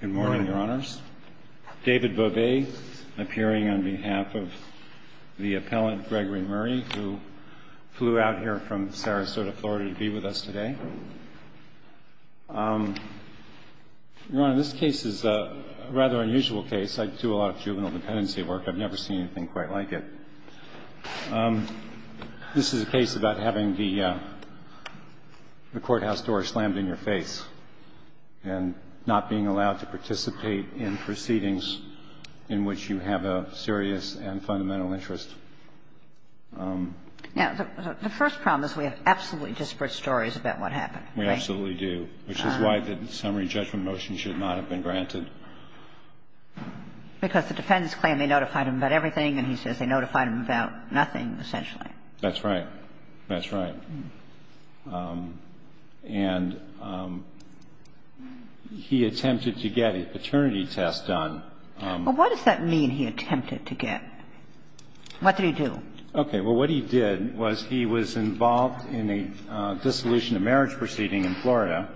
Good morning, Your Honors. David Bobet, appearing on behalf of the appellant Gregory Murray, who flew out here from Sarasota, Florida, to be with us today. Your Honor, this case is a rather unusual case. I do a lot of juvenile dependency work. I've never seen anything quite like it. This is a case about having the courthouse door slammed in your face and not being allowed to participate in proceedings in which you have a serious and fundamental interest. Yeah. The first problem is we have absolutely disparate stories about what happened. We absolutely do, which is why the summary judgment motion should not have been granted. We absolutely do, which is why the summary judgment motion should not have been granted. Because the defendants claim they notified him about everything, and he says they notified him about nothing, essentially. That's right. That's right. And he attempted to get a paternity test done. Well, what does that mean, he attempted to get? What did he do? Okay. Well, what he did was he was involved in a dissolution of marriage proceeding in Florida.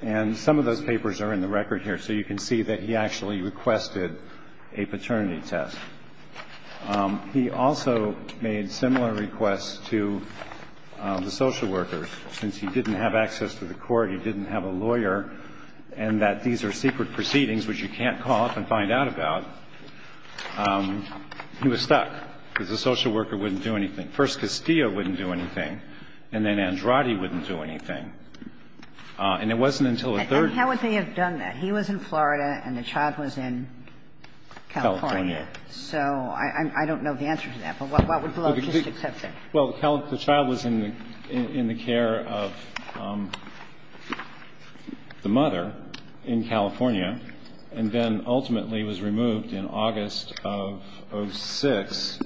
And some of those papers are in the record here, so you can see that he actually requested a paternity test. He also made similar requests to the social workers. Since he didn't have access to the court, he didn't have a lawyer, and that these are secret proceedings which you can't call up and find out about, he was stuck, because the social worker wouldn't do anything. First Castillo wouldn't do anything, and then Andrade wouldn't do anything. And it wasn't until the third one. And how would they have done that? He was in Florida and the child was in California. So I don't know the answer to that, but what would the logistics have been? Well, the child was in the care of the mother in California, and then ultimately was removed in August of 06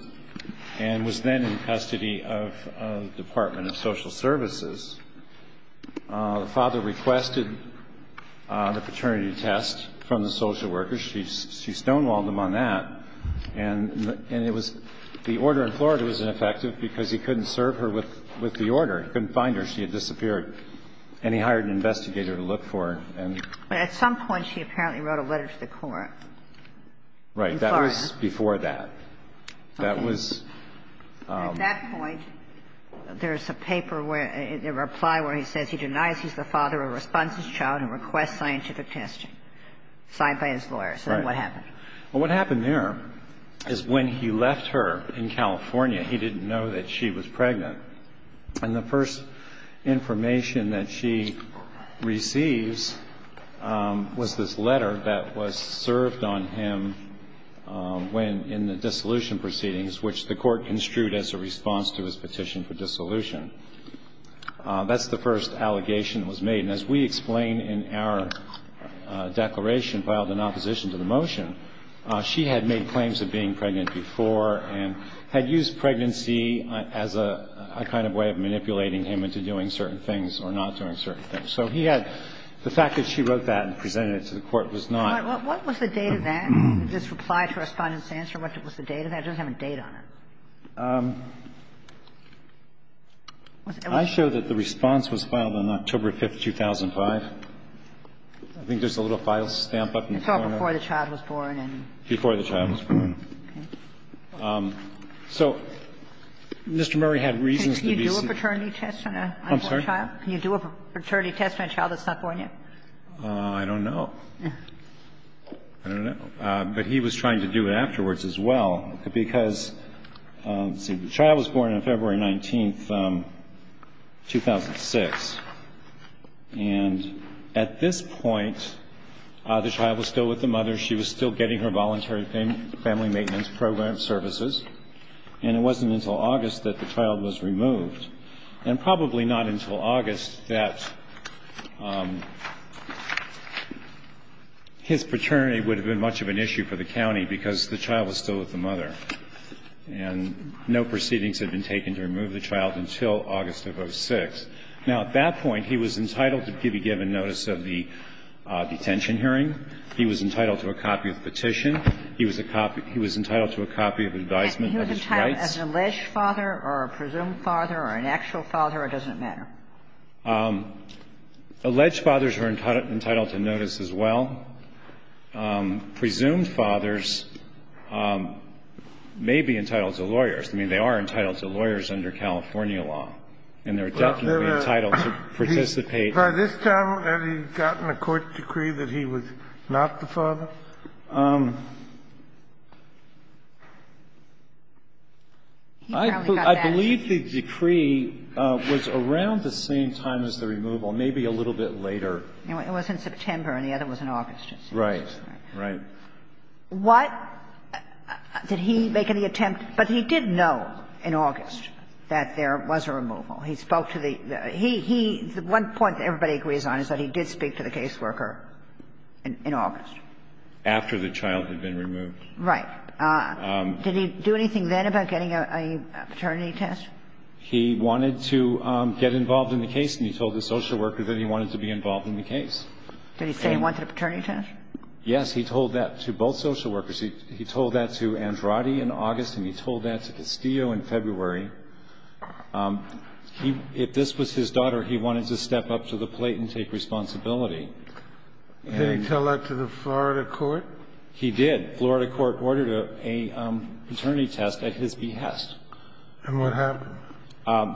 and was then in custody of the Department of Social Services. The father requested the paternity test from the social workers. She stonewalled him on that, and it was the order in Florida was ineffective because he couldn't serve her with the order. He couldn't find her. She had disappeared. And he hired an investigator to look for her. But at some point, she apparently wrote a letter to the court in Florida. Right. That was before that. That was at that point. There's a paper where the reply where he says he denies he's the father or responds scientific testing, signed by his lawyer. Right. So then what happened? Well, what happened there is when he left her in California, he didn't know that she was pregnant. And the first information that she receives was this letter that was served on him when in the dissolution proceedings, which the court construed as a response to his petition for dissolution. That's the first allegation that was made. And as we explain in our declaration filed in opposition to the motion, she had made claims of being pregnant before and had used pregnancy as a kind of way of manipulating him into doing certain things or not doing certain things. So he had the fact that she wrote that and presented it to the court was not. What was the date of that, this reply to Respondent Sandstrom? What was the date of that? It doesn't have a date on it. I show that the response was filed on October 5th, 2005. I think there's a little file stamp up in the corner. It's all before the child was born. Before the child was born. Okay. So Mr. Murray had reasons to be. Can you do a paternity test on an unborn child? I'm sorry? Can you do a paternity test on a child that's not born yet? I don't know. I don't know. But he was trying to do it afterwards as well because, let's see, the child was born on February 19th, 2006. And at this point, the child was still with the mother. She was still getting her voluntary family maintenance program services. And it wasn't until August that the child was removed. And probably not until August that his paternity would have been much of an issue for the county because the child was still with the mother. And no proceedings had been taken to remove the child until August of 06. Now, at that point, he was entitled to be given notice of the detention hearing. He was entitled to a copy of the petition. He was a copy of the advisement of his rights. He was entitled as an alleged father or a presumed father or an actual father. It doesn't matter. Alleged fathers were entitled to notice as well. Presumed fathers may be entitled to lawyers. I mean, they are entitled to lawyers under California law. And they're definitely entitled to participate. By this time, had he gotten a court decree that he was not the father? He probably got that. I believe the decree was around the same time as the removal, maybe a little bit later. It was in September, and the other was in August. Right. Right. What did he make in the attempt? But he did know in August that there was a removal. He spoke to the – he – the one point that everybody agrees on is that he did speak to the caseworker in August. After the child had been removed. Right. Did he do anything then about getting a paternity test? He wanted to get involved in the case, and he told the social worker that he wanted to be involved in the case. Did he say he wanted a paternity test? Yes. He told that to both social workers. He told that to Andrade in August, and he told that to Castillo in February. He – if this was his daughter, he wanted to step up to the plate and take responsibility. Did he tell that to the Florida court? He did. Florida court ordered a paternity test at his behest. And what happened?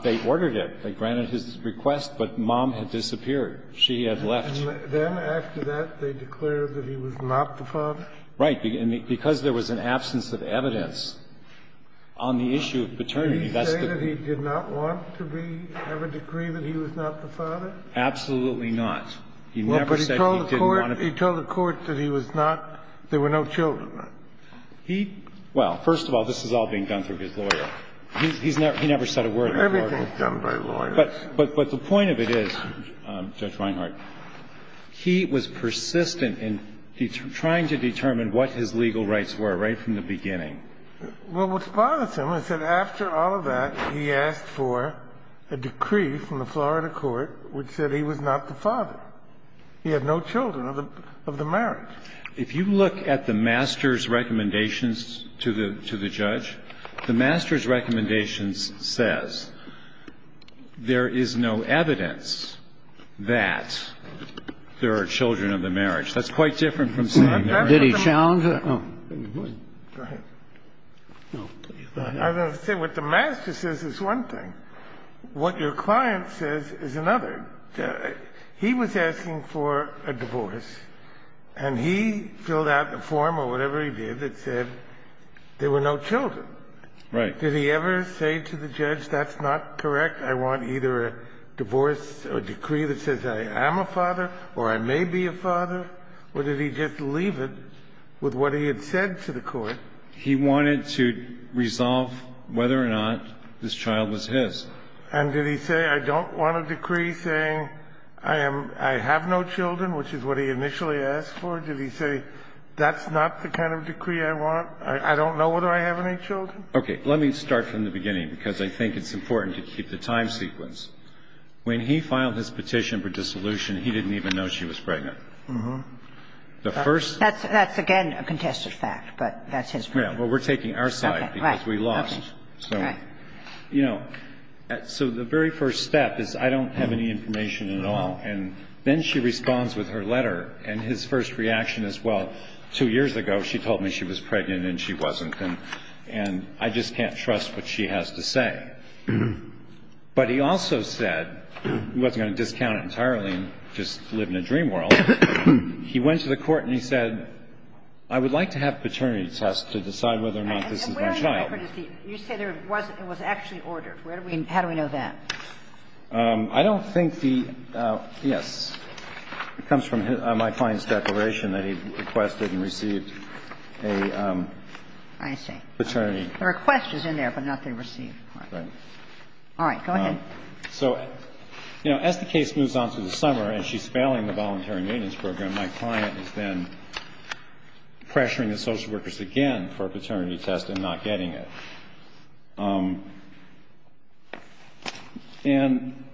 They ordered it. They granted his request, but mom had disappeared. She had left. And then after that, they declared that he was not the father? Right. Because there was an absence of evidence on the issue of paternity. Did he say that he did not want to be – have a decree that he was not the father? Absolutely not. He never said he didn't want to be. Well, but he told the court that he was not – there were no children. He – well, first of all, this is all being done through his lawyer. He's never – he never said a word. Everything's done by lawyers. But the point of it is, Judge Reinhart, he was persistent in trying to determine what his legal rights were right from the beginning. Well, what bothers him is that after all of that, he asked for a decree from the Florida court which said he was not the father. He had no children of the marriage. If you look at the master's recommendations to the judge, the master's recommendations says there is no evidence that there are children of the marriage. That's quite different from saying there are children of the marriage. Did he challenge it? Go ahead. No. I was going to say what the master says is one thing. What your client says is another. He was asking for a divorce, and he filled out a form or whatever he did that said there were no children. Right. Did he ever say to the judge, that's not correct, I want either a divorce or decree that says I am a father or I may be a father, or did he just leave it with what he had said to the court? He wanted to resolve whether or not this child was his. And did he say, I don't want a decree saying I am – I have no children, which is what he initially asked for? Did he say, that's not the kind of decree I want? I don't know whether I have any children? Okay. Let me start from the beginning, because I think it's important to keep the time sequence. When he filed his petition for dissolution, he didn't even know she was pregnant. Uh-huh. The first – That's, again, a contested fact, but that's his point. Well, we're taking our side, because we lost. Right. Okay. All right. You know, so the very first step is, I don't have any information at all. And then she responds with her letter, and his first reaction is, well, two years ago, she told me she was pregnant and she wasn't. And I just can't trust what she has to say. But he also said he wasn't going to discount it entirely and just live in a dream world. He went to the court and he said, I would like to have a paternity test to decide whether or not this is my child. And where are you looking for deceit? You say there was – it was actually ordered. Where do we – how do we know that? I don't think the – yes. It comes from my client's declaration that he requested and received a paternity test. I see. The request is in there, but not the received. Right. All right. Go ahead. So, you know, as the case moves on through the summer and she's failing the voluntary maintenance program, my client is then pressuring the social workers again for a paternity test and not getting it. And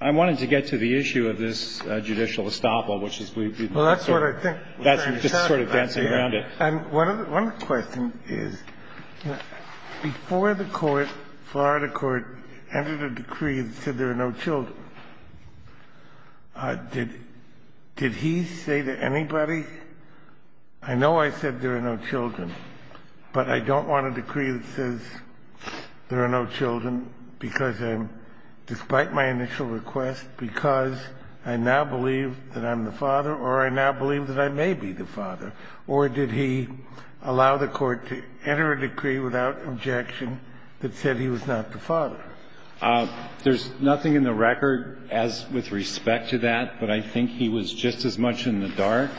I wanted to get to the issue of this judicial estoppel, which is we've been sort of – Well, that's what I think. That's what I'm talking about. Just sort of dancing around it. And one other question is, before the court, Florida court, entered a decree that said there are no children, did he say to anybody, I know I said there are no children, but I don't want a decree that says there are no children because I'm – despite my initial request, because I now believe that I'm the father or I now believe that I may be the father? Or did he allow the court to enter a decree without objection that said he was not the father? There's nothing in the record as – with respect to that, but I think he was just as much in the dark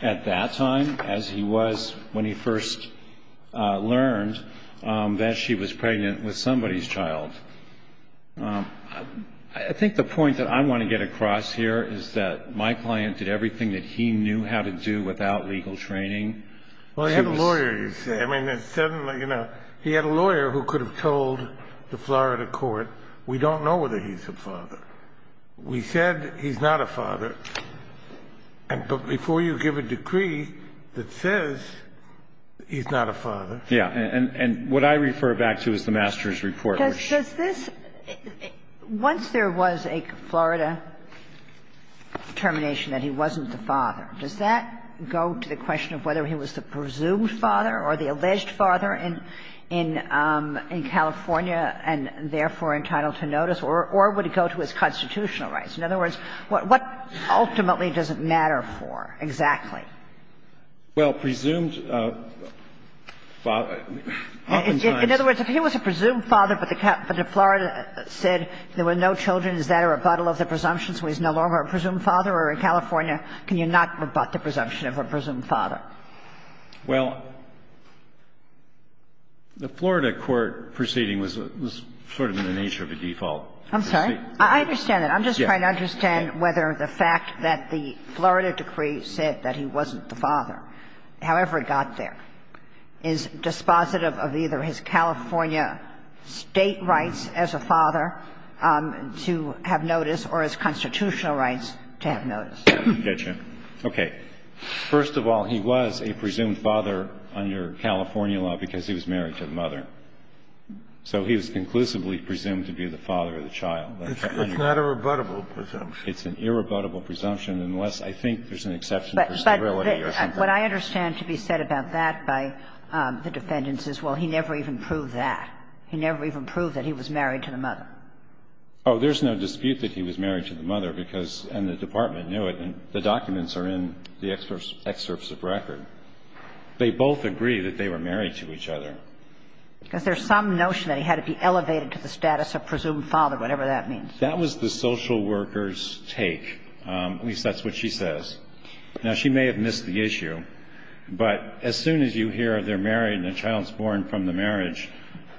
at that time as he was when he first learned that she was pregnant with somebody's child. I think the point that I want to get across here is that my client did everything that he knew how to do without legal training. Well, he had a lawyer, you see. I mean, suddenly, you know, he had a lawyer who could have told the Florida court, we don't know whether he's the father. We said he's not a father, but before you give a decree that says he's not a father. Yeah. And what I refer back to is the master's report. Does this – once there was a Florida termination that he wasn't the father, does that go to the question of whether he was the presumed father or the alleged father in California and therefore entitled to notice? Or would it go to his constitutional rights? In other words, what ultimately does it matter for exactly? Well, presumed father – oftentimes – In other words, if he was a presumed father, but the Florida said there were no children, is that a rebuttal of the presumption, so he's no longer a presumed father? Or in California, can you not rebut the presumption of a presumed father? Well, the Florida court proceeding was sort of in the nature of a default. I'm sorry? I understand that. I'm just trying to understand whether the fact that the Florida decree said that he wasn't the father, however it got there, is dispositive of either his California State rights as a father to have notice or his constitutional rights to have notice. Gotcha. Okay. First of all, he was a presumed father under California law because he was married to the mother. So he was conclusively presumed to be the father of the child. That's not a rebuttable presumption. It's an irrebuttable presumption unless, I think, there's an exception for stability or something. But what I understand to be said about that by the defendants is, well, he never even proved that. He never even proved that he was married to the mother. Oh, there's no dispute that he was married to the mother because – and the department knew it, and the documents are in the excerpts of record. They both agree that they were married to each other. Because there's some notion that he had to be elevated to the status of presumed father, whatever that means. That was the social worker's take. At least that's what she says. Now, she may have missed the issue. But as soon as you hear they're married and the child's born from the marriage,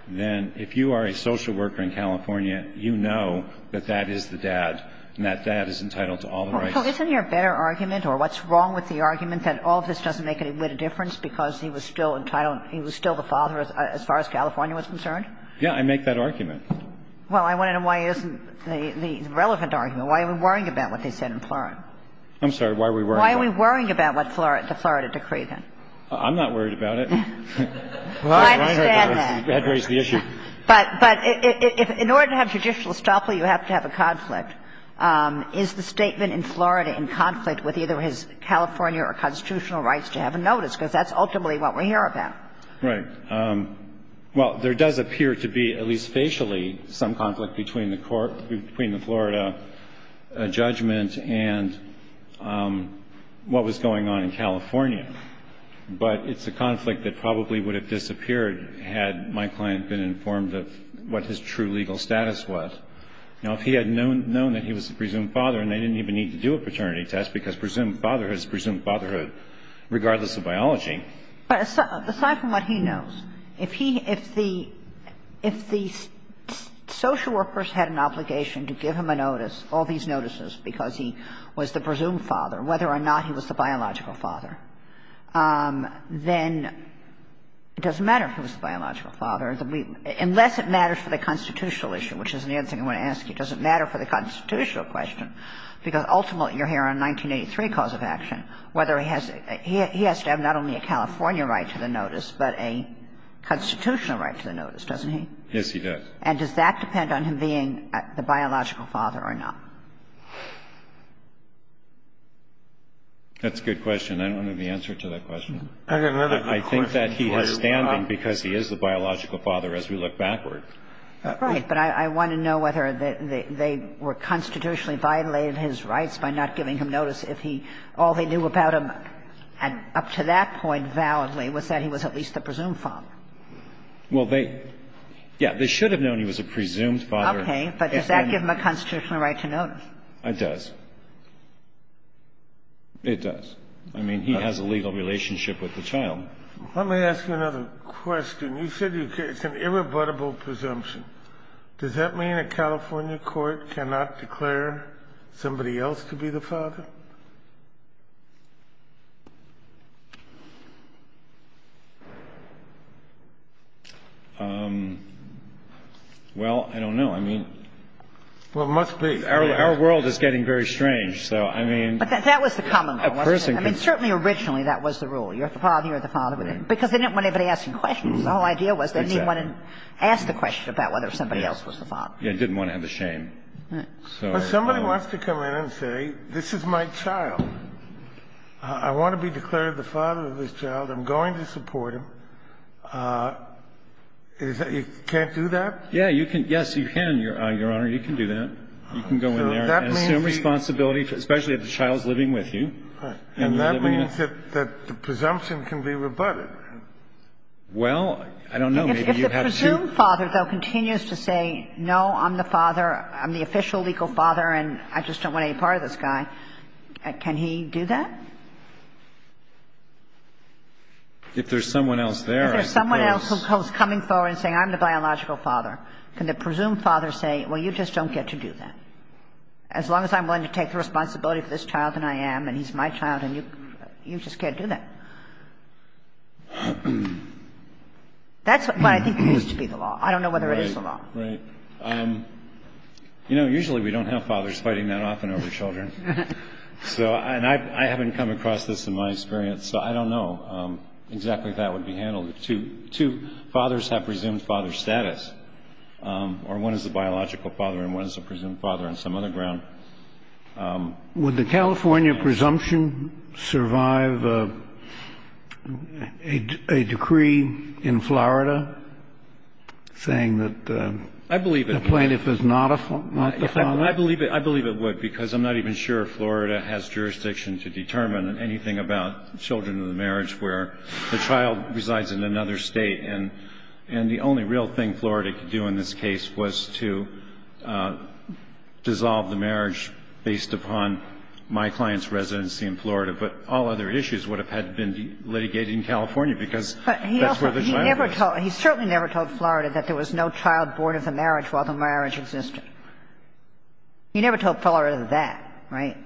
then if you are a social worker in California, you know that that is the dad and that that is entitled to all the rights. So isn't there a better argument or what's wrong with the argument that all of this doesn't make any little difference because he was still entitled – he was still the father as far as California was concerned? Yeah. I make that argument. Well, I want to know why isn't the relevant argument. Why are we worrying about what they said in Florida? I'm sorry. Why are we worrying about it? Why are we worrying about the Florida decree, then? I'm not worried about it. I understand that. But in order to have judicial estoppel, you have to have a conflict. Is the statement in Florida in conflict with either his California or constitutional rights to have a notice? Because that's ultimately what we're here about. Right. Well, there does appear to be, at least facially, some conflict between the court – between the Florida judgment and what was going on in California. But it's a conflict that probably would have disappeared had my client been informed of what his true legal status was. Now, if he had known that he was the presumed father and they didn't even need to do a paternity test, because presumed fatherhood is presumed fatherhood regardless of biology. But aside from what he knows, if he – if the social workers had an obligation to give him a notice, all these notices, because he was the presumed father, whether or not he was the biological father, then it doesn't matter if he was the biological father, unless it matters for the constitutional issue, which is the other thing I want to ask you. Does it matter for the constitutional question? Because ultimately you're here on 1983 cause of action, whether he has – he has to have not only a California right to the notice, but a constitutional right to the notice, doesn't he? Yes, he does. And does that depend on him being the biological father or not? That's a good question. I don't have the answer to that question. I think that he has standing because he is the biological father as we look backward. Right. But I want to know whether they were constitutionally violating his rights by not giving him notice if he – all they knew about him up to that point validly was that he was at least the presumed father. Well, they – yeah. They should have known he was a presumed father. Okay. But does that give him a constitutional right to notice? It does. It does. I mean, he has a legal relationship with the child. Let me ask you another question. You said it's an irrebuttable presumption. Does that mean a California court cannot declare somebody else to be the father? Well, I don't know. I mean – Well, it must be. Our world is getting very strange. So, I mean – But that was the common goal, wasn't it? I mean, certainly originally that was the rule. You're the father, you're the father. Because they didn't want anybody asking questions. The whole idea was they didn't want to ask the question about whether somebody else was the father. Yeah. They didn't want to have the shame. So – But somebody wants to come in and say, this is my child. I want to be declared the father of this child. I'm going to support him. You can't do that? Yeah. Yes, you can, Your Honor. You can do that. You can go in there and assume responsibility, especially if the child is living with you. And that means that the presumption can be rebutted. Well, I don't know. Maybe you have to – If the presumed father, though, continues to say, no, I'm the father, I'm the official legal father, and I just don't want any part of this guy, can he do that? If there's someone else there – If there's someone else who's coming forward and saying, I'm the biological father, can the presumed father say, well, you just don't get to do that? As long as I'm willing to take the responsibility for this child, and I am, and he's my child, and you – you just can't do that. That's what I think needs to be the law. I don't know whether it is the law. Right. Right. You know, usually we don't have fathers fighting that often over children. So – and I haven't come across this in my experience, so I don't know exactly if that would be handled. Two fathers have presumed father status, or one is the biological father and one is the presumed father on some other ground. Would the California presumption survive a decree in Florida saying that – I believe it would. – the plaintiff is not the father? I believe it would, because I'm not even sure Florida has jurisdiction to determine anything about children in the marriage where the child resides in another state. And the only real thing Florida could do in this case was to dissolve the marriage based upon my client's residency in Florida. But all other issues would have had to be litigated in California because that's where the child was. But he also – he never told – he certainly never told Florida that there was no child born of the marriage while the marriage existed. He never told Florida that, right?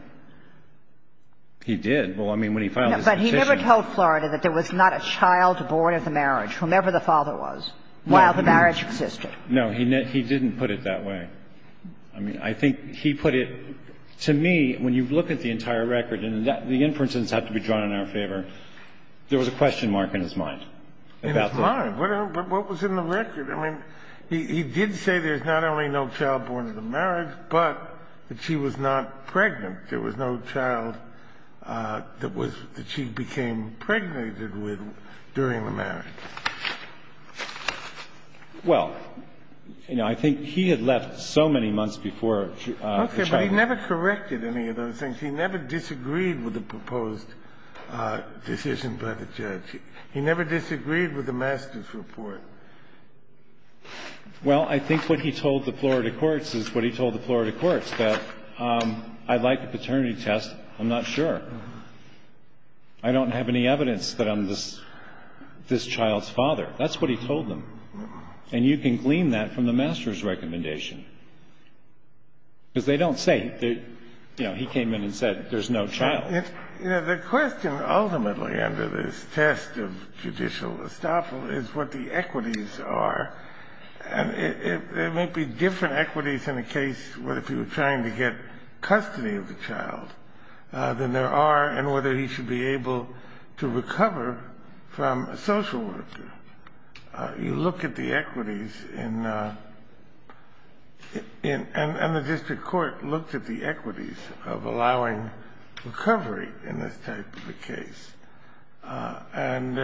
He did. Well, I mean, when he filed his petition. He never told Florida that there was not a child born of the marriage, whomever the father was, while the marriage existed. No, he didn't put it that way. I mean, I think he put it – to me, when you look at the entire record, and the inferences have to be drawn in our favor, there was a question mark in his mind. In his mind? What was in the record? I mean, he did say there's not only no child born of the marriage, but that she was not pregnant. There was no child that was – that she became pregnant with during the marriage. Well, you know, I think he had left so many months before the child was born. Okay, but he never corrected any of those things. He never disagreed with the proposed decision by the judge. He never disagreed with the master's report. Well, I think what he told the Florida courts is what he told the Florida courts, that I'd like a paternity test, I'm not sure. I don't have any evidence that I'm this child's father. That's what he told them. And you can glean that from the master's recommendation. Because they don't say – you know, he came in and said there's no child. You know, the question ultimately under this test of judicial estoppel is what the equities are. And there may be different equities in a case where if you were trying to get custody of the child, then there are, and whether he should be able to recover from a social worker. You look at the equities in – and the district court looked at the equities of allowing recovery in this type of a case. And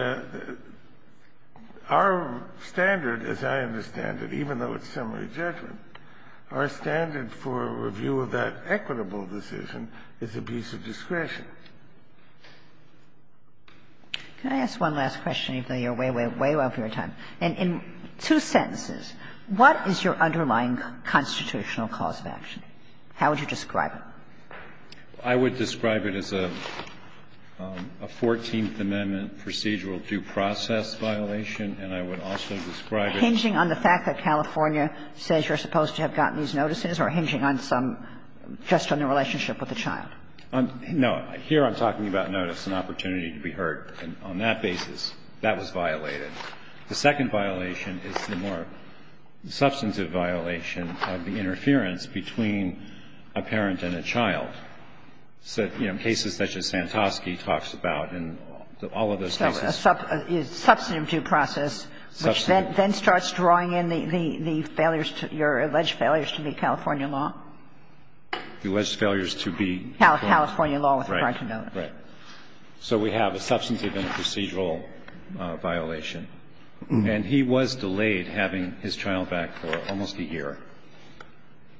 our standard, as I understand it, even though it's summary judgment, our standard for review of that equitable decision is a piece of discretion. Can I ask one last question, even though you're way, way, way off your time? In two sentences, what is your underlying constitutional cause of action? How would you describe it? I would describe it as a Fourteenth Amendment procedural due process violation. And I would also describe it as – Hinging on the fact that California says you're supposed to have gotten these notices or hinging on some – just on the relationship with the child? No. Here I'm talking about notice, an opportunity to be heard. On that basis, that was violated. The second violation is the more substantive violation of the interference between a parent and a child. So, you know, cases such as Santosky talks about and all of those cases. So a substantive due process, which then starts drawing in the failures to – your alleged failures to be California law? The alleged failures to be California law with regard to notice. Right. So we have a substantive and a procedural violation. And he was delayed having his child back for almost a year.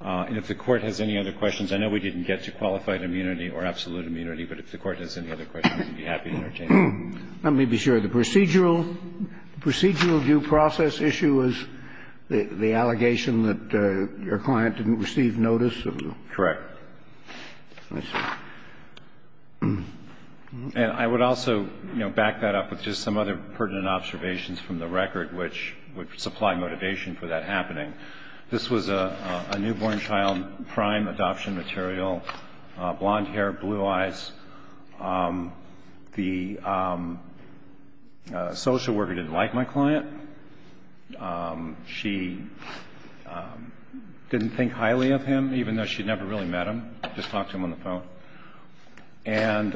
And if the Court has any other questions – I know we didn't get to qualified immunity or absolute immunity, but if the Court has any other questions, I'd be happy to entertain them. Let me be sure. The procedural due process issue was the allegation that your client didn't receive notice? Correct. And I would also, you know, back that up with just some other pertinent observations from the record, which would supply motivation for that happening. This was a newborn child prime adoption material, blonde hair, blue eyes. The social worker didn't like my client. She didn't think highly of him, even though she'd never really met him. Just talked to him on the phone. And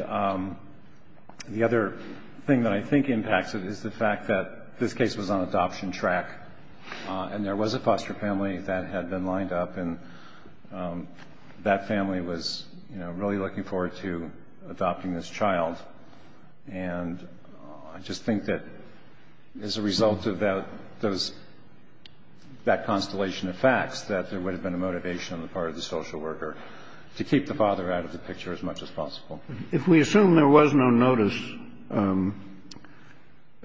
the other thing that I think impacts it is the fact that this case was on adoption track, and there was a foster family that had been lined up. And that family was, you know, really looking forward to adopting this child. And I just think that as a result of that, those – that constellation of facts, that there would have been a motivation on the part of the social worker to keep the father out of the picture as much as possible. If we assume there was no notice,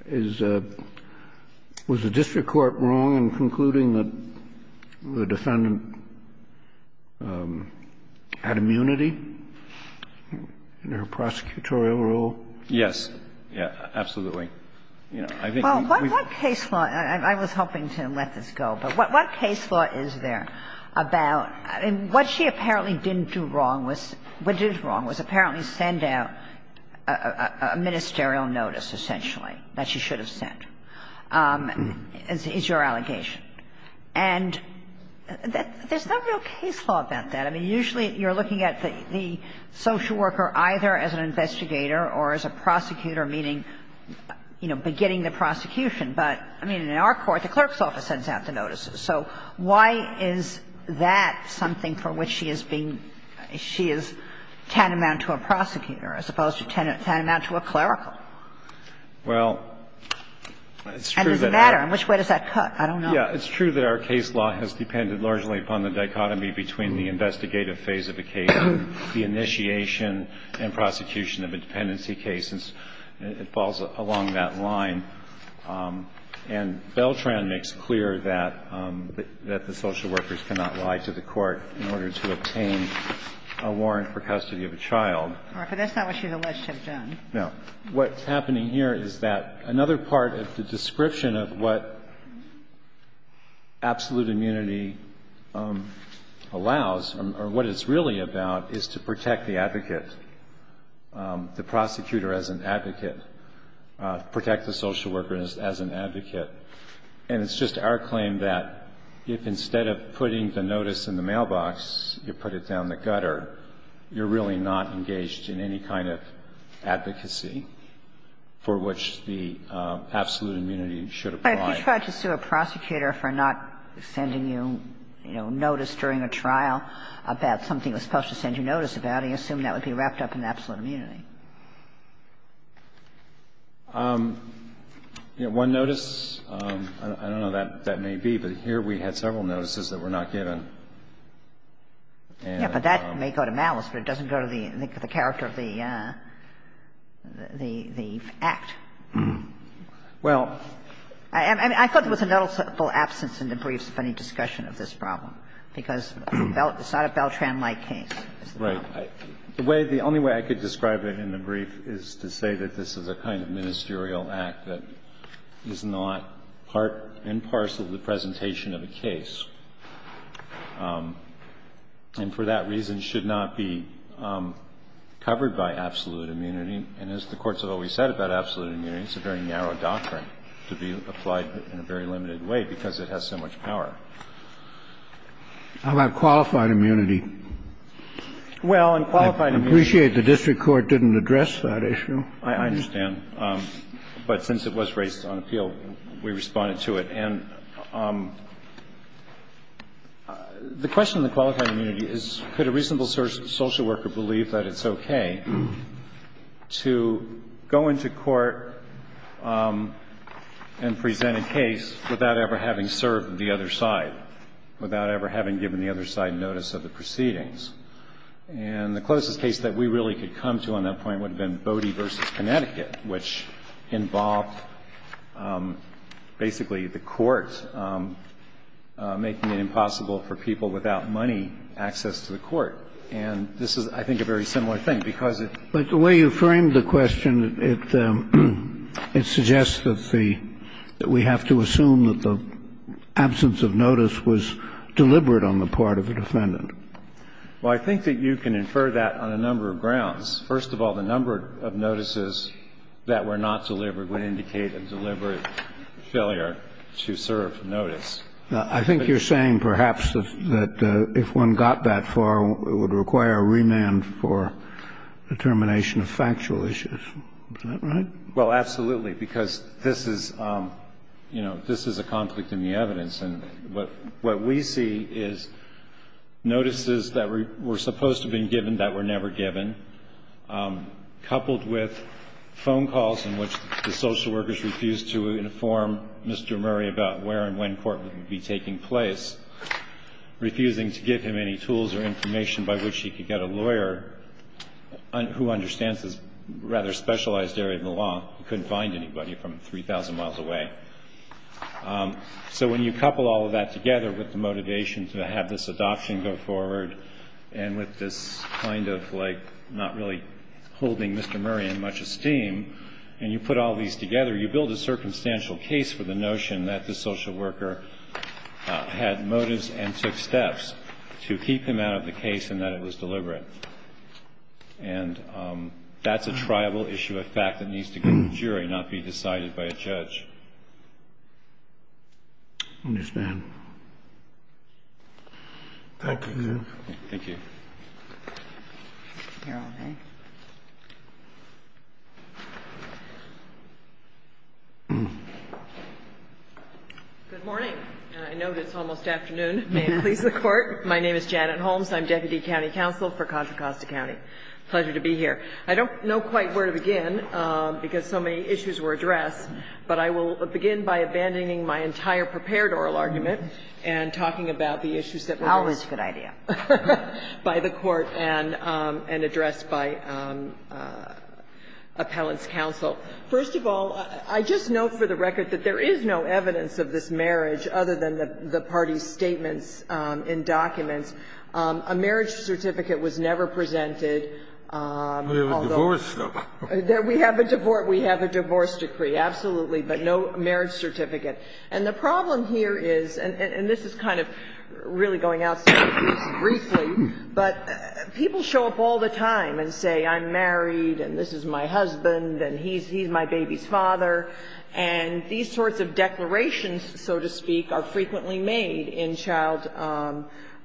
is – was the district court wrong in concluding that the defendant had immunity in her prosecutorial rule? Yes. Absolutely. Well, what case law – I was hoping to let this go, but what case law is there about – I mean, what she apparently didn't do wrong was – what did it wrong was apparently send out a ministerial notice, essentially, that she should have sent. Is your allegation. And there's no real case law about that. I mean, usually you're looking at the social worker either as an investigator or as a prosecutor, meaning, you know, beginning the prosecution. But, I mean, in our court, the clerk's office sends out the notices. So why is that something for which she is being – she is tantamount to a prosecutor as opposed to tantamount to a clerical? Well, it's true that our – And does it matter? In which way does that cut? I don't know. Yeah. It's true that our case law has depended largely upon the dichotomy between the investigative phase of the case and the initiation and prosecution of a dependency case. It falls along that line. And Beltran makes clear that the social workers cannot lie to the court in order to obtain a warrant for custody of a child. All right. But that's not what she's alleged to have done. No. What's happening here is that another part of the description of what absolute immunity allows or what it's really about is to protect the advocate, the prosecutor as an advocate, protect the social worker as an advocate. And it's just our claim that if instead of putting the notice in the mailbox, you put it down the gutter, you're really not engaged in any kind of advocacy for which the absolute immunity should apply. But if you tried to sue a prosecutor for not sending you, you know, notice during a trial about something he was supposed to send you notice about, do you assume that would be wrapped up in absolute immunity? You know, one notice, I don't know that that may be, but here we had several notices that were not given. Yeah, but that may go to malice, but it doesn't go to the character of the Act. Well, I mean, I thought there was a noticeable absence in the briefs of any discussion of this problem, because it's not a Beltran-like case. Right. The way the only way I could describe it in the brief is to say that this is a kind of ministerial act that is not part and parcel of the presentation of a case, and for that reason should not be covered by absolute immunity. And as the courts have always said about absolute immunity, it's a very narrow doctrine to be applied in a very limited way, because it has so much power. How about qualified immunity? Well, in qualified immunity the district court didn't address that issue. I understand. But since it was raised on appeal, we responded to it. And the question in the qualified immunity is could a reasonable social worker believe that it's okay to go into court and present a case without ever having served the other side, without ever having given the other side notice of the proceedings. And the closest case that we really could come to on that point would have been Cody v. Connecticut, which involved basically the court making it impossible for people without money access to the court. And this is, I think, a very similar thing, because it's the way you framed the question, it suggests that the we have to assume that the absence of notice was deliberate on the part of the defendant. Well, I think that you can infer that on a number of grounds. First of all, the number of notices that were not delivered would indicate a deliberate failure to serve notice. I think you're saying perhaps that if one got that far, it would require a remand for the termination of factual issues. Is that right? Well, absolutely, because this is, you know, this is a conflict in the evidence. And what we see is notices that were supposed to have been given that were never given, coupled with phone calls in which the social workers refused to inform Mr. Murray about where and when court would be taking place, refusing to give him any tools or information by which he could get a lawyer who understands this rather specialized area of the law, couldn't find anybody from 3,000 miles away. So when you couple all of that together with the motivation to have this adoption go forward and with this kind of, like, not really holding Mr. Murray in much esteem, and you put all of these together, you build a circumstantial case for the notion that the social worker had motives and took steps to keep him out of the case and that it was deliberate. And that's a triable issue of fact that needs to get to jury, not be decided by a judge. I understand. Thank you. Thank you. Your Honor. Good morning. I know it's almost afternoon. May it please the Court. My name is Janet Holmes. I'm deputy county counsel for Contra Costa County. Pleasure to be here. I don't know quite where to begin, because so many issues were addressed, but I will begin by abandoning my entire prepared oral argument and talking about the issues that were raised. Always a good idea. By the Court and addressed by appellants' counsel. First of all, I just note for the record that there is no evidence of this marriage other than the party's statements in documents. A marriage certificate was never presented, although we have a divorce decree. Absolutely. But no marriage certificate. And the problem here is, and this is kind of really going outside the case briefly, but people show up all the time and say, I'm married, and this is my husband, and he's my baby's father. And these sorts of declarations, so to speak, are frequently made in child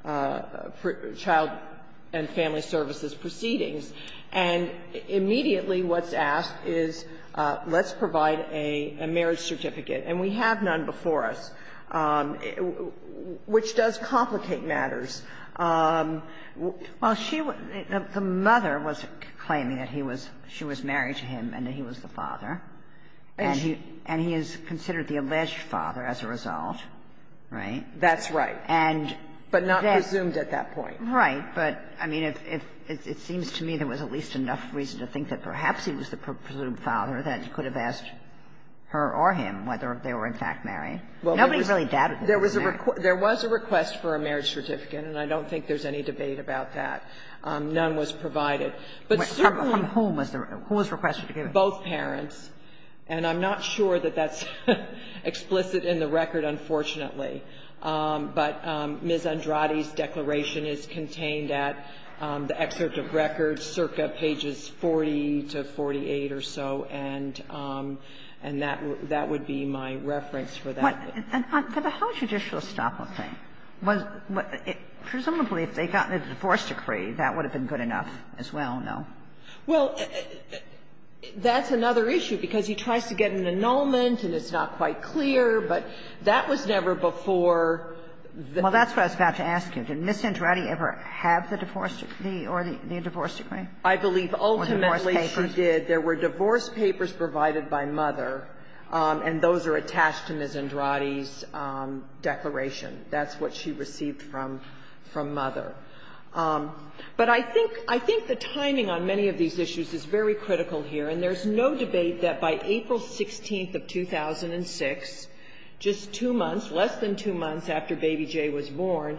and family services proceedings. And immediately what's asked is, let's provide a marriage certificate. And we have none before us, which does complicate matters. Well, she was the mother was claiming that he was, she was married to him and that he was the father, and he is considered the alleged father as a result, right? That's right. But not presumed at that point. Right. But, I mean, it seems to me there was at least enough reason to think that perhaps he was the presumed father that you could have asked her or him whether they were in fact married. Nobody really doubted that they were married. There was a request for a marriage certificate, and I don't think there's any debate about that. None was provided. But certainly the request was given to both parents, and I'm not sure that that's explicit in the record, unfortunately. But Ms. Andrade's declaration is contained at the excerpt of records, circa pages 40 to 48 or so, and that would be my reference for that. But how judicial stop-and-think? Presumably if they got a divorce decree, that would have been good enough as well, no? Well, that's another issue, because he tries to get an annulment and it's not quite clear, but that was never before the case. Well, that's what I was about to ask you. Did Ms. Andrade ever have the divorce decree or the divorce papers? I believe ultimately she did. There were divorce papers provided by mother, and those are attached to Ms. Andrade's declaration. That's what she received from mother. But I think the timing on many of these issues is very critical here, and there's no debate that by April 16th of 2006, just two months, less than two months after Baby J was born,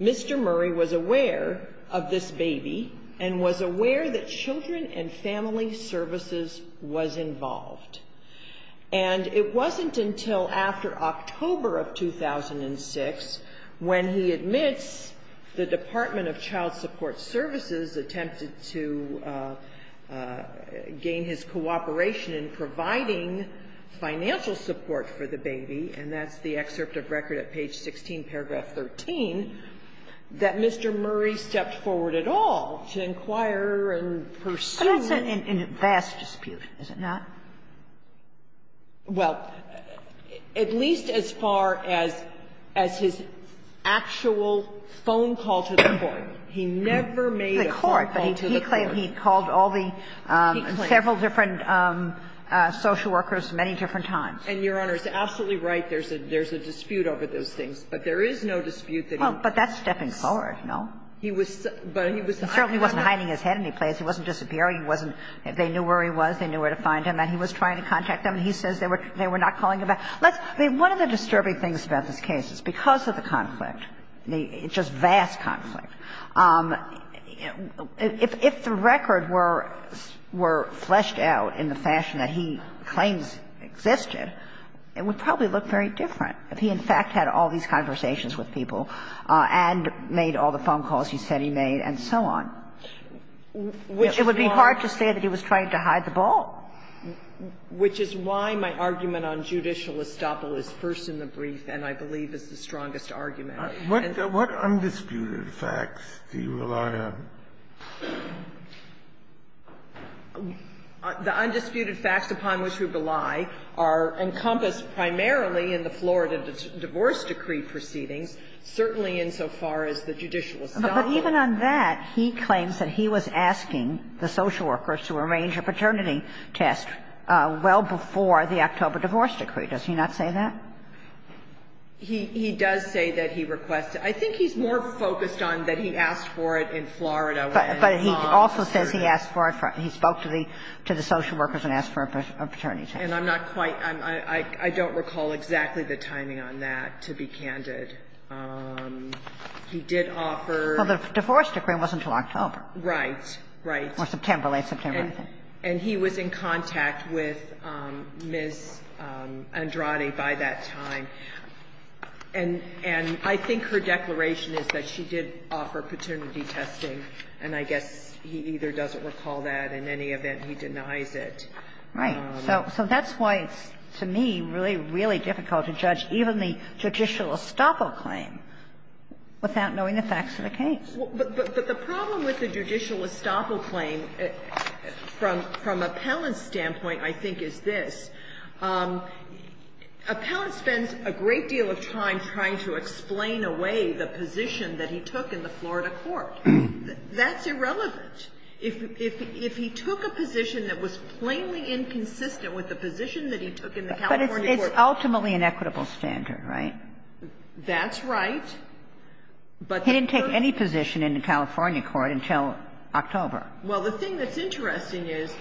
Mr. Murray was aware of this baby and was aware that Children and Family Services was involved. And it wasn't until after October of 2006 when he admits the Department of Child in his cooperation in providing financial support for the baby, and that's the excerpt of record at page 16, paragraph 13, that Mr. Murray stepped forward at all to inquire and pursue. But that's in vast dispute, is it not? Well, at least as far as his actual phone call to the court. He never made a phone call to the court. He called all the several different social workers many different times. And, Your Honor, he's absolutely right. There's a dispute over those things. But there is no dispute that he was. Well, but that's stepping forward, no? He was, but he was not. He certainly wasn't hiding his head anyplace. He wasn't disappearing. He wasn't they knew where he was, they knew where to find him. And he was trying to contact them. He says they were not calling him back. One of the disturbing things about this case is because of the conflict, just vast conflict, if the record were fleshed out in the fashion that he claims existed, it would probably look very different if he, in fact, had all these conversations with people and made all the phone calls he said he made and so on. It would be hard to say that he was trying to hide the ball. Which is why my argument on judicial estoppel is first in the brief and I believe is the strongest argument. What undisputed facts do you rely on? The undisputed facts upon which we rely are encompassed primarily in the Florida divorce decree proceedings, certainly insofar as the judicial estoppel. But even on that, he claims that he was asking the social workers to arrange a paternity test well before the October divorce decree. Does he not say that? He does say that he requested. I think he's more focused on that he asked for it in Florida. But he also says he asked for it, he spoke to the social workers and asked for a paternity test. And I'm not quite, I don't recall exactly the timing on that, to be candid. He did offer. Well, the divorce decree wasn't until October. Right, right. Or September, late September. And he was in contact with Ms. Andrade by that time. And I think her declaration is that she did offer paternity testing. And I guess he either doesn't recall that. In any event, he denies it. Right. So that's why it's, to me, really, really difficult to judge even the judicial estoppel claim without knowing the facts of the case. But the problem with the judicial estoppel claim, from Appellant's standpoint, I think, is this. Appellant spends a great deal of time trying to explain away the position that he took in the Florida court. That's irrelevant. If he took a position that was plainly inconsistent with the position that he took in the California court. But it's ultimately an equitable standard, right? That's right. He didn't take any position in the California court until October. Well, the thing that's interesting is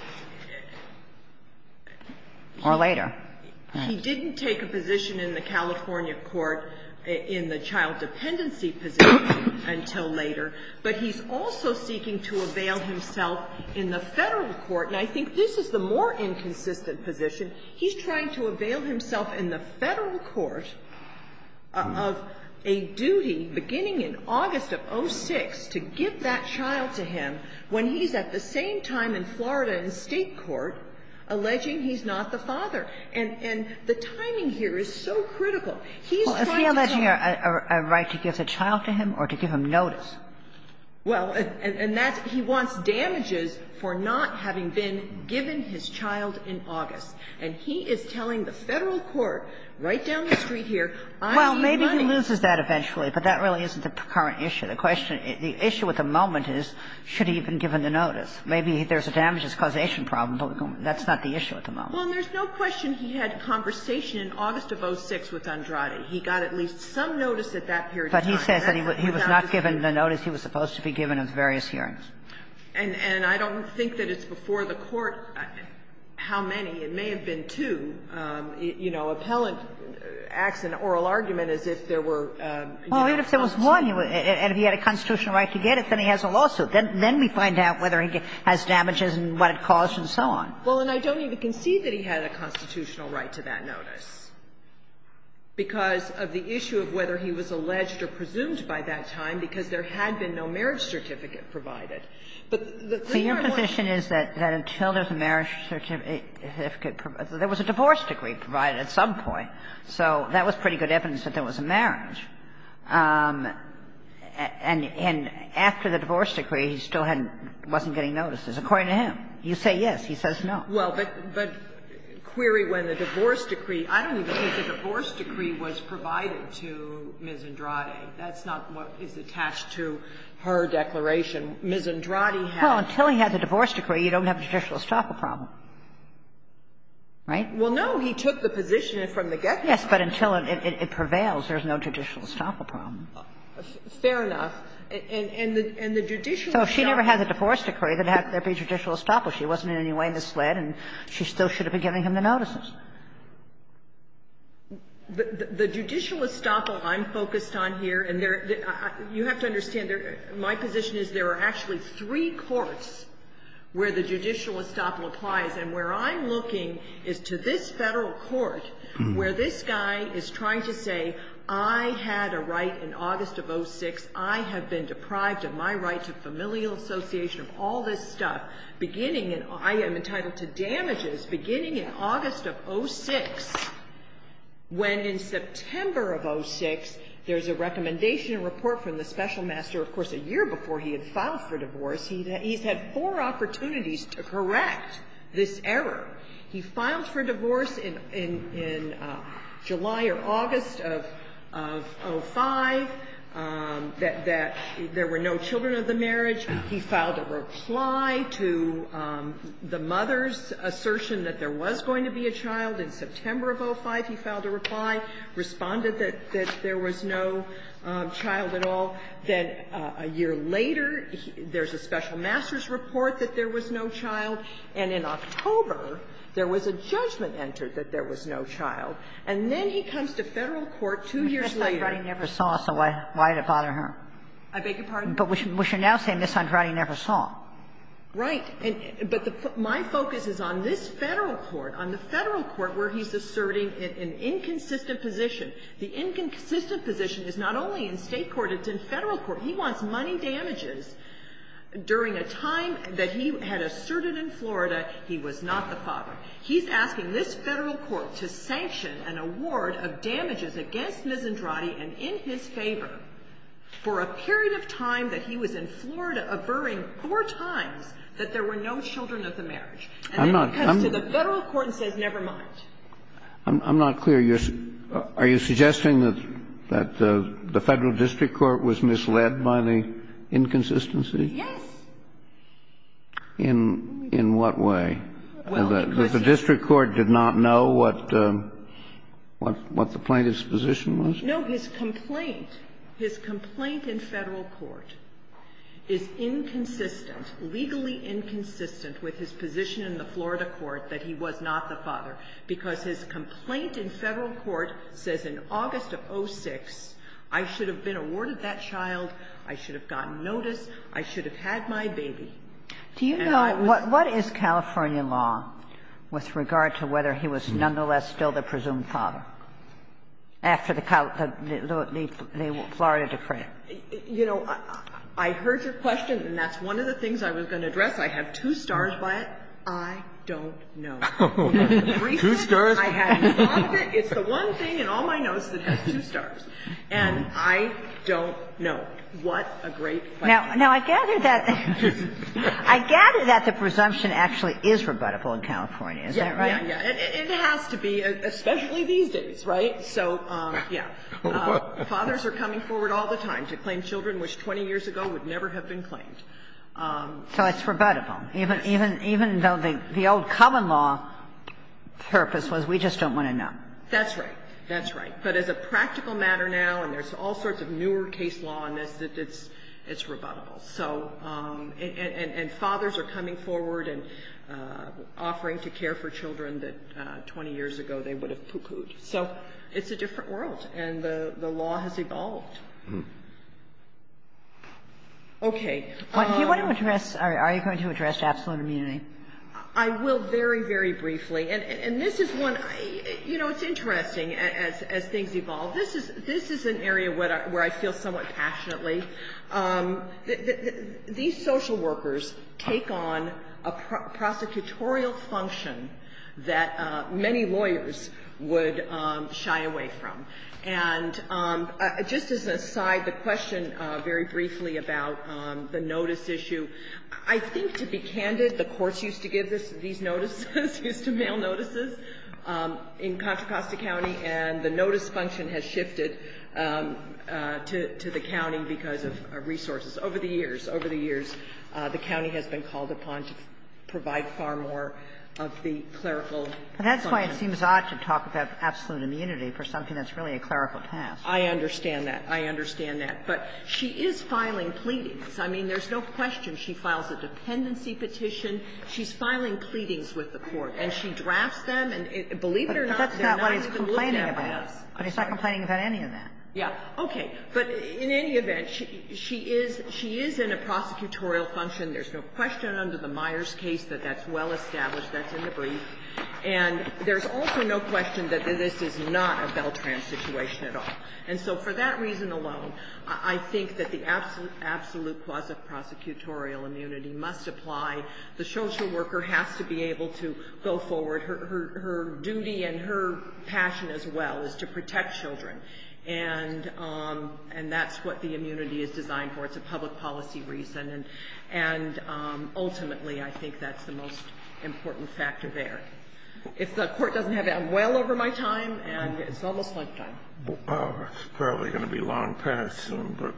he didn't take a position in the California court in the child dependency position until later. But he's also seeking to avail himself in the Federal court. And I think this is the more inconsistent position. He's trying to avail himself in the Federal court of a duty beginning in August of 06 to give that child to him when he's at the same time in Florida in State court alleging he's not the father. And the timing here is so critical. He's trying to tell me. Well, is he alleging a right to give the child to him or to give him notice? Well, and that's he wants damages for not having been given his child in August. And he is telling the Federal court right down the street here, I need money. Well, maybe he loses that eventually, but that really isn't the current issue. The question at the issue at the moment is, should he have been given the notice? Maybe there's a damages causation problem, but that's not the issue at the moment. Well, and there's no question he had a conversation in August of 06 with Andrade. He got at least some notice at that period of time. But he says that he was not given the notice he was supposed to be given in various hearings. And I don't think that it's before the court how many. It may have been two. You know, appellant acts in oral argument as if there were, you know, notice. Well, even if there was one, and if he had a constitutional right to get it, then he has a lawsuit. Then we find out whether he has damages and what it caused and so on. Well, and I don't even concede that he had a constitutional right to that notice because of the issue of whether he was alleged or presumed by that time, because there had been no marriage certificate provided. But the thing I want to say is that until there was a marriage certificate provided, there was a divorce decree provided at some point. So that was pretty good evidence that there was a marriage. And after the divorce decree, he still hadn't been, wasn't getting notices. According to him. You say yes, he says no. Well, but query when the divorce decree, I don't even think the divorce decree was provided to Ms. Andrade. That's not what is attached to her declaration. Ms. Andrade had. Well, until he had the divorce decree, you don't have a judicial estoppel problem. Right? Well, no. He took the position from the get-go. Yes, but until it prevails, there's no judicial estoppel problem. Fair enough. And the judicial estoppel. So if she never had the divorce decree, then there would be a judicial estoppel. She wasn't in any way misled and she still should have been giving him the notices. The judicial estoppel I'm focused on here, and you have to understand, my position is there are actually three courts where the judicial estoppel applies. And where I'm looking is to this Federal court where this guy is trying to say, I had a right in August of 06, I have been deprived of my right to familial association of all this stuff, beginning in – I am entitled to damages beginning in August of 06, when in September of 06, there's a recommendation report from the special master, of course, a year before he had filed for divorce. He's had four opportunities to correct this error. He filed for divorce in July or August of 05, that there were no children of the In July, Mr. Andrade filed a reply to the mother's assertion that there was going to be a child. In September of 05, he filed a reply, responded that there was no child at all. Then a year later, there's a special master's report that there was no child. And in October, there was a judgement entered that there was no child. And then he comes to Federal court two years later. Kagan. Andrade never saw, so why did it bother him? I beg your pardon? But we should now say Ms. Andrade never saw. Right. But my focus is on this Federal court, on the Federal court where he's asserting an inconsistent position. The inconsistent position is not only in State court, it's in Federal court. He wants money damages during a time that he had asserted in Florida he was not the father. He's asking this Federal court to sanction an award of damages against Ms. Andrade and in his favor for a period of time that he was in Florida averring four times that there were no children of the marriage. And then he comes to the Federal court and says, never mind. I'm not clear. Are you suggesting that the Federal district court was misled by the inconsistency? Yes. In what way? Well, because the district court did not know what the plaintiff's position was? No, his complaint, his complaint in Federal court is inconsistent, legally inconsistent with his position in the Florida court that he was not the father, because his complaint in Federal court says in August of 06, I should have been awarded that child, I should have gotten notice, I should have had my baby. Do you know what is California law with regard to whether he was nonetheless still the presumed father after the Florida decree? You know, I heard your question, and that's one of the things I was going to address. I have two stars by it. I don't know. Two stars? I have it. It's the one thing in all my notes that has two stars. And I don't know. What a great question. Now, I gather that the presumption actually is rebuttable in California. Is that right? Yes. It has to be, especially these days, right? So, yeah. Fathers are coming forward all the time to claim children which 20 years ago would never have been claimed. So it's rebuttable, even though the old common law purpose was we just don't want to know. That's right. That's right. But as a practical matter now, and there's all sorts of newer case law on this, that it's rebuttable. So, and fathers are coming forward and offering to care for children that 20 years ago they would have poo-pooed. So it's a different world, and the law has evolved. Okay. Do you want to address, or are you going to address absolute immunity? I will very, very briefly. And this is one, you know, it's interesting as things evolve. This is an area where I feel somewhat passionately. These social workers take on a prosecutorial function that many lawyers would shy away from. And just as an aside, the question very briefly about the notice issue. I think to be candid, the courts used to give these notices, used to mail notices in Contra Costa County, and the notice function has shifted to the county because of resources. Over the years, over the years, the county has been called upon to provide far more of the clerical function. But that's why it seems odd to talk about absolute immunity for something that's really a clerical task. I understand that. I understand that. But she is filing pleadings. I mean, there's no question she files a dependency petition. She's filing pleadings with the court, and she drafts them, and believe it or not, they're not even looked at by us. But that's not what he's complaining about. He's not complaining about any of that. Yeah. Okay. But in any event, she is in a prosecutorial function. There's no question under the Myers case that that's well established. That's in the brief. And there's also no question that this is not a Beltran situation at all. And so for that reason alone, I think that the absolute cause of prosecutorial immunity must apply. The social worker has to be able to go forward. Her duty and her passion as well is to protect children. And that's what the immunity is designed for. It's a public policy reason. And ultimately, I think that's the most important factor there. If the court doesn't have it, I'm well over my time, and it's almost my time. It's probably going to be long past soon, but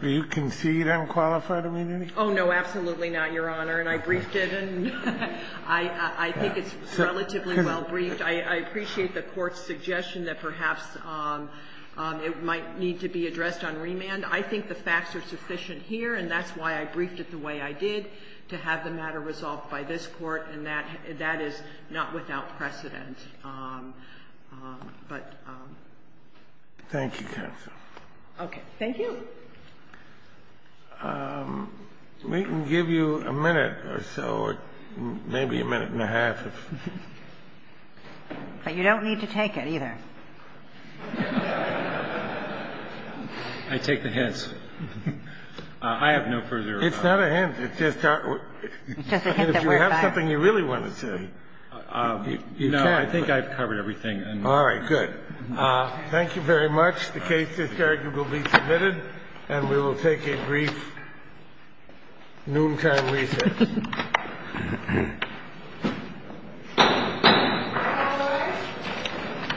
do you concede unqualified immunity? Oh, no, absolutely not, Your Honor. And I briefed it, and I think it's relatively well briefed. I appreciate the Court's suggestion that perhaps it might need to be addressed on remand. I think the facts are sufficient here, and that's why I briefed it the way I did, to have the matter resolved by this Court. And that is not without precedent. But ---- Thank you, counsel. Okay. Thank you. We can give you a minute or so, or maybe a minute and a half. But you don't need to take it, either. I take the hints. I have no further remarks. It's not a hint. It's just a hint that we're biased. If you have something you really want to say, you know, I think I've covered everything. All right. Good. Thank you very much. The case is arguably submitted, and we will take a brief noontime recess.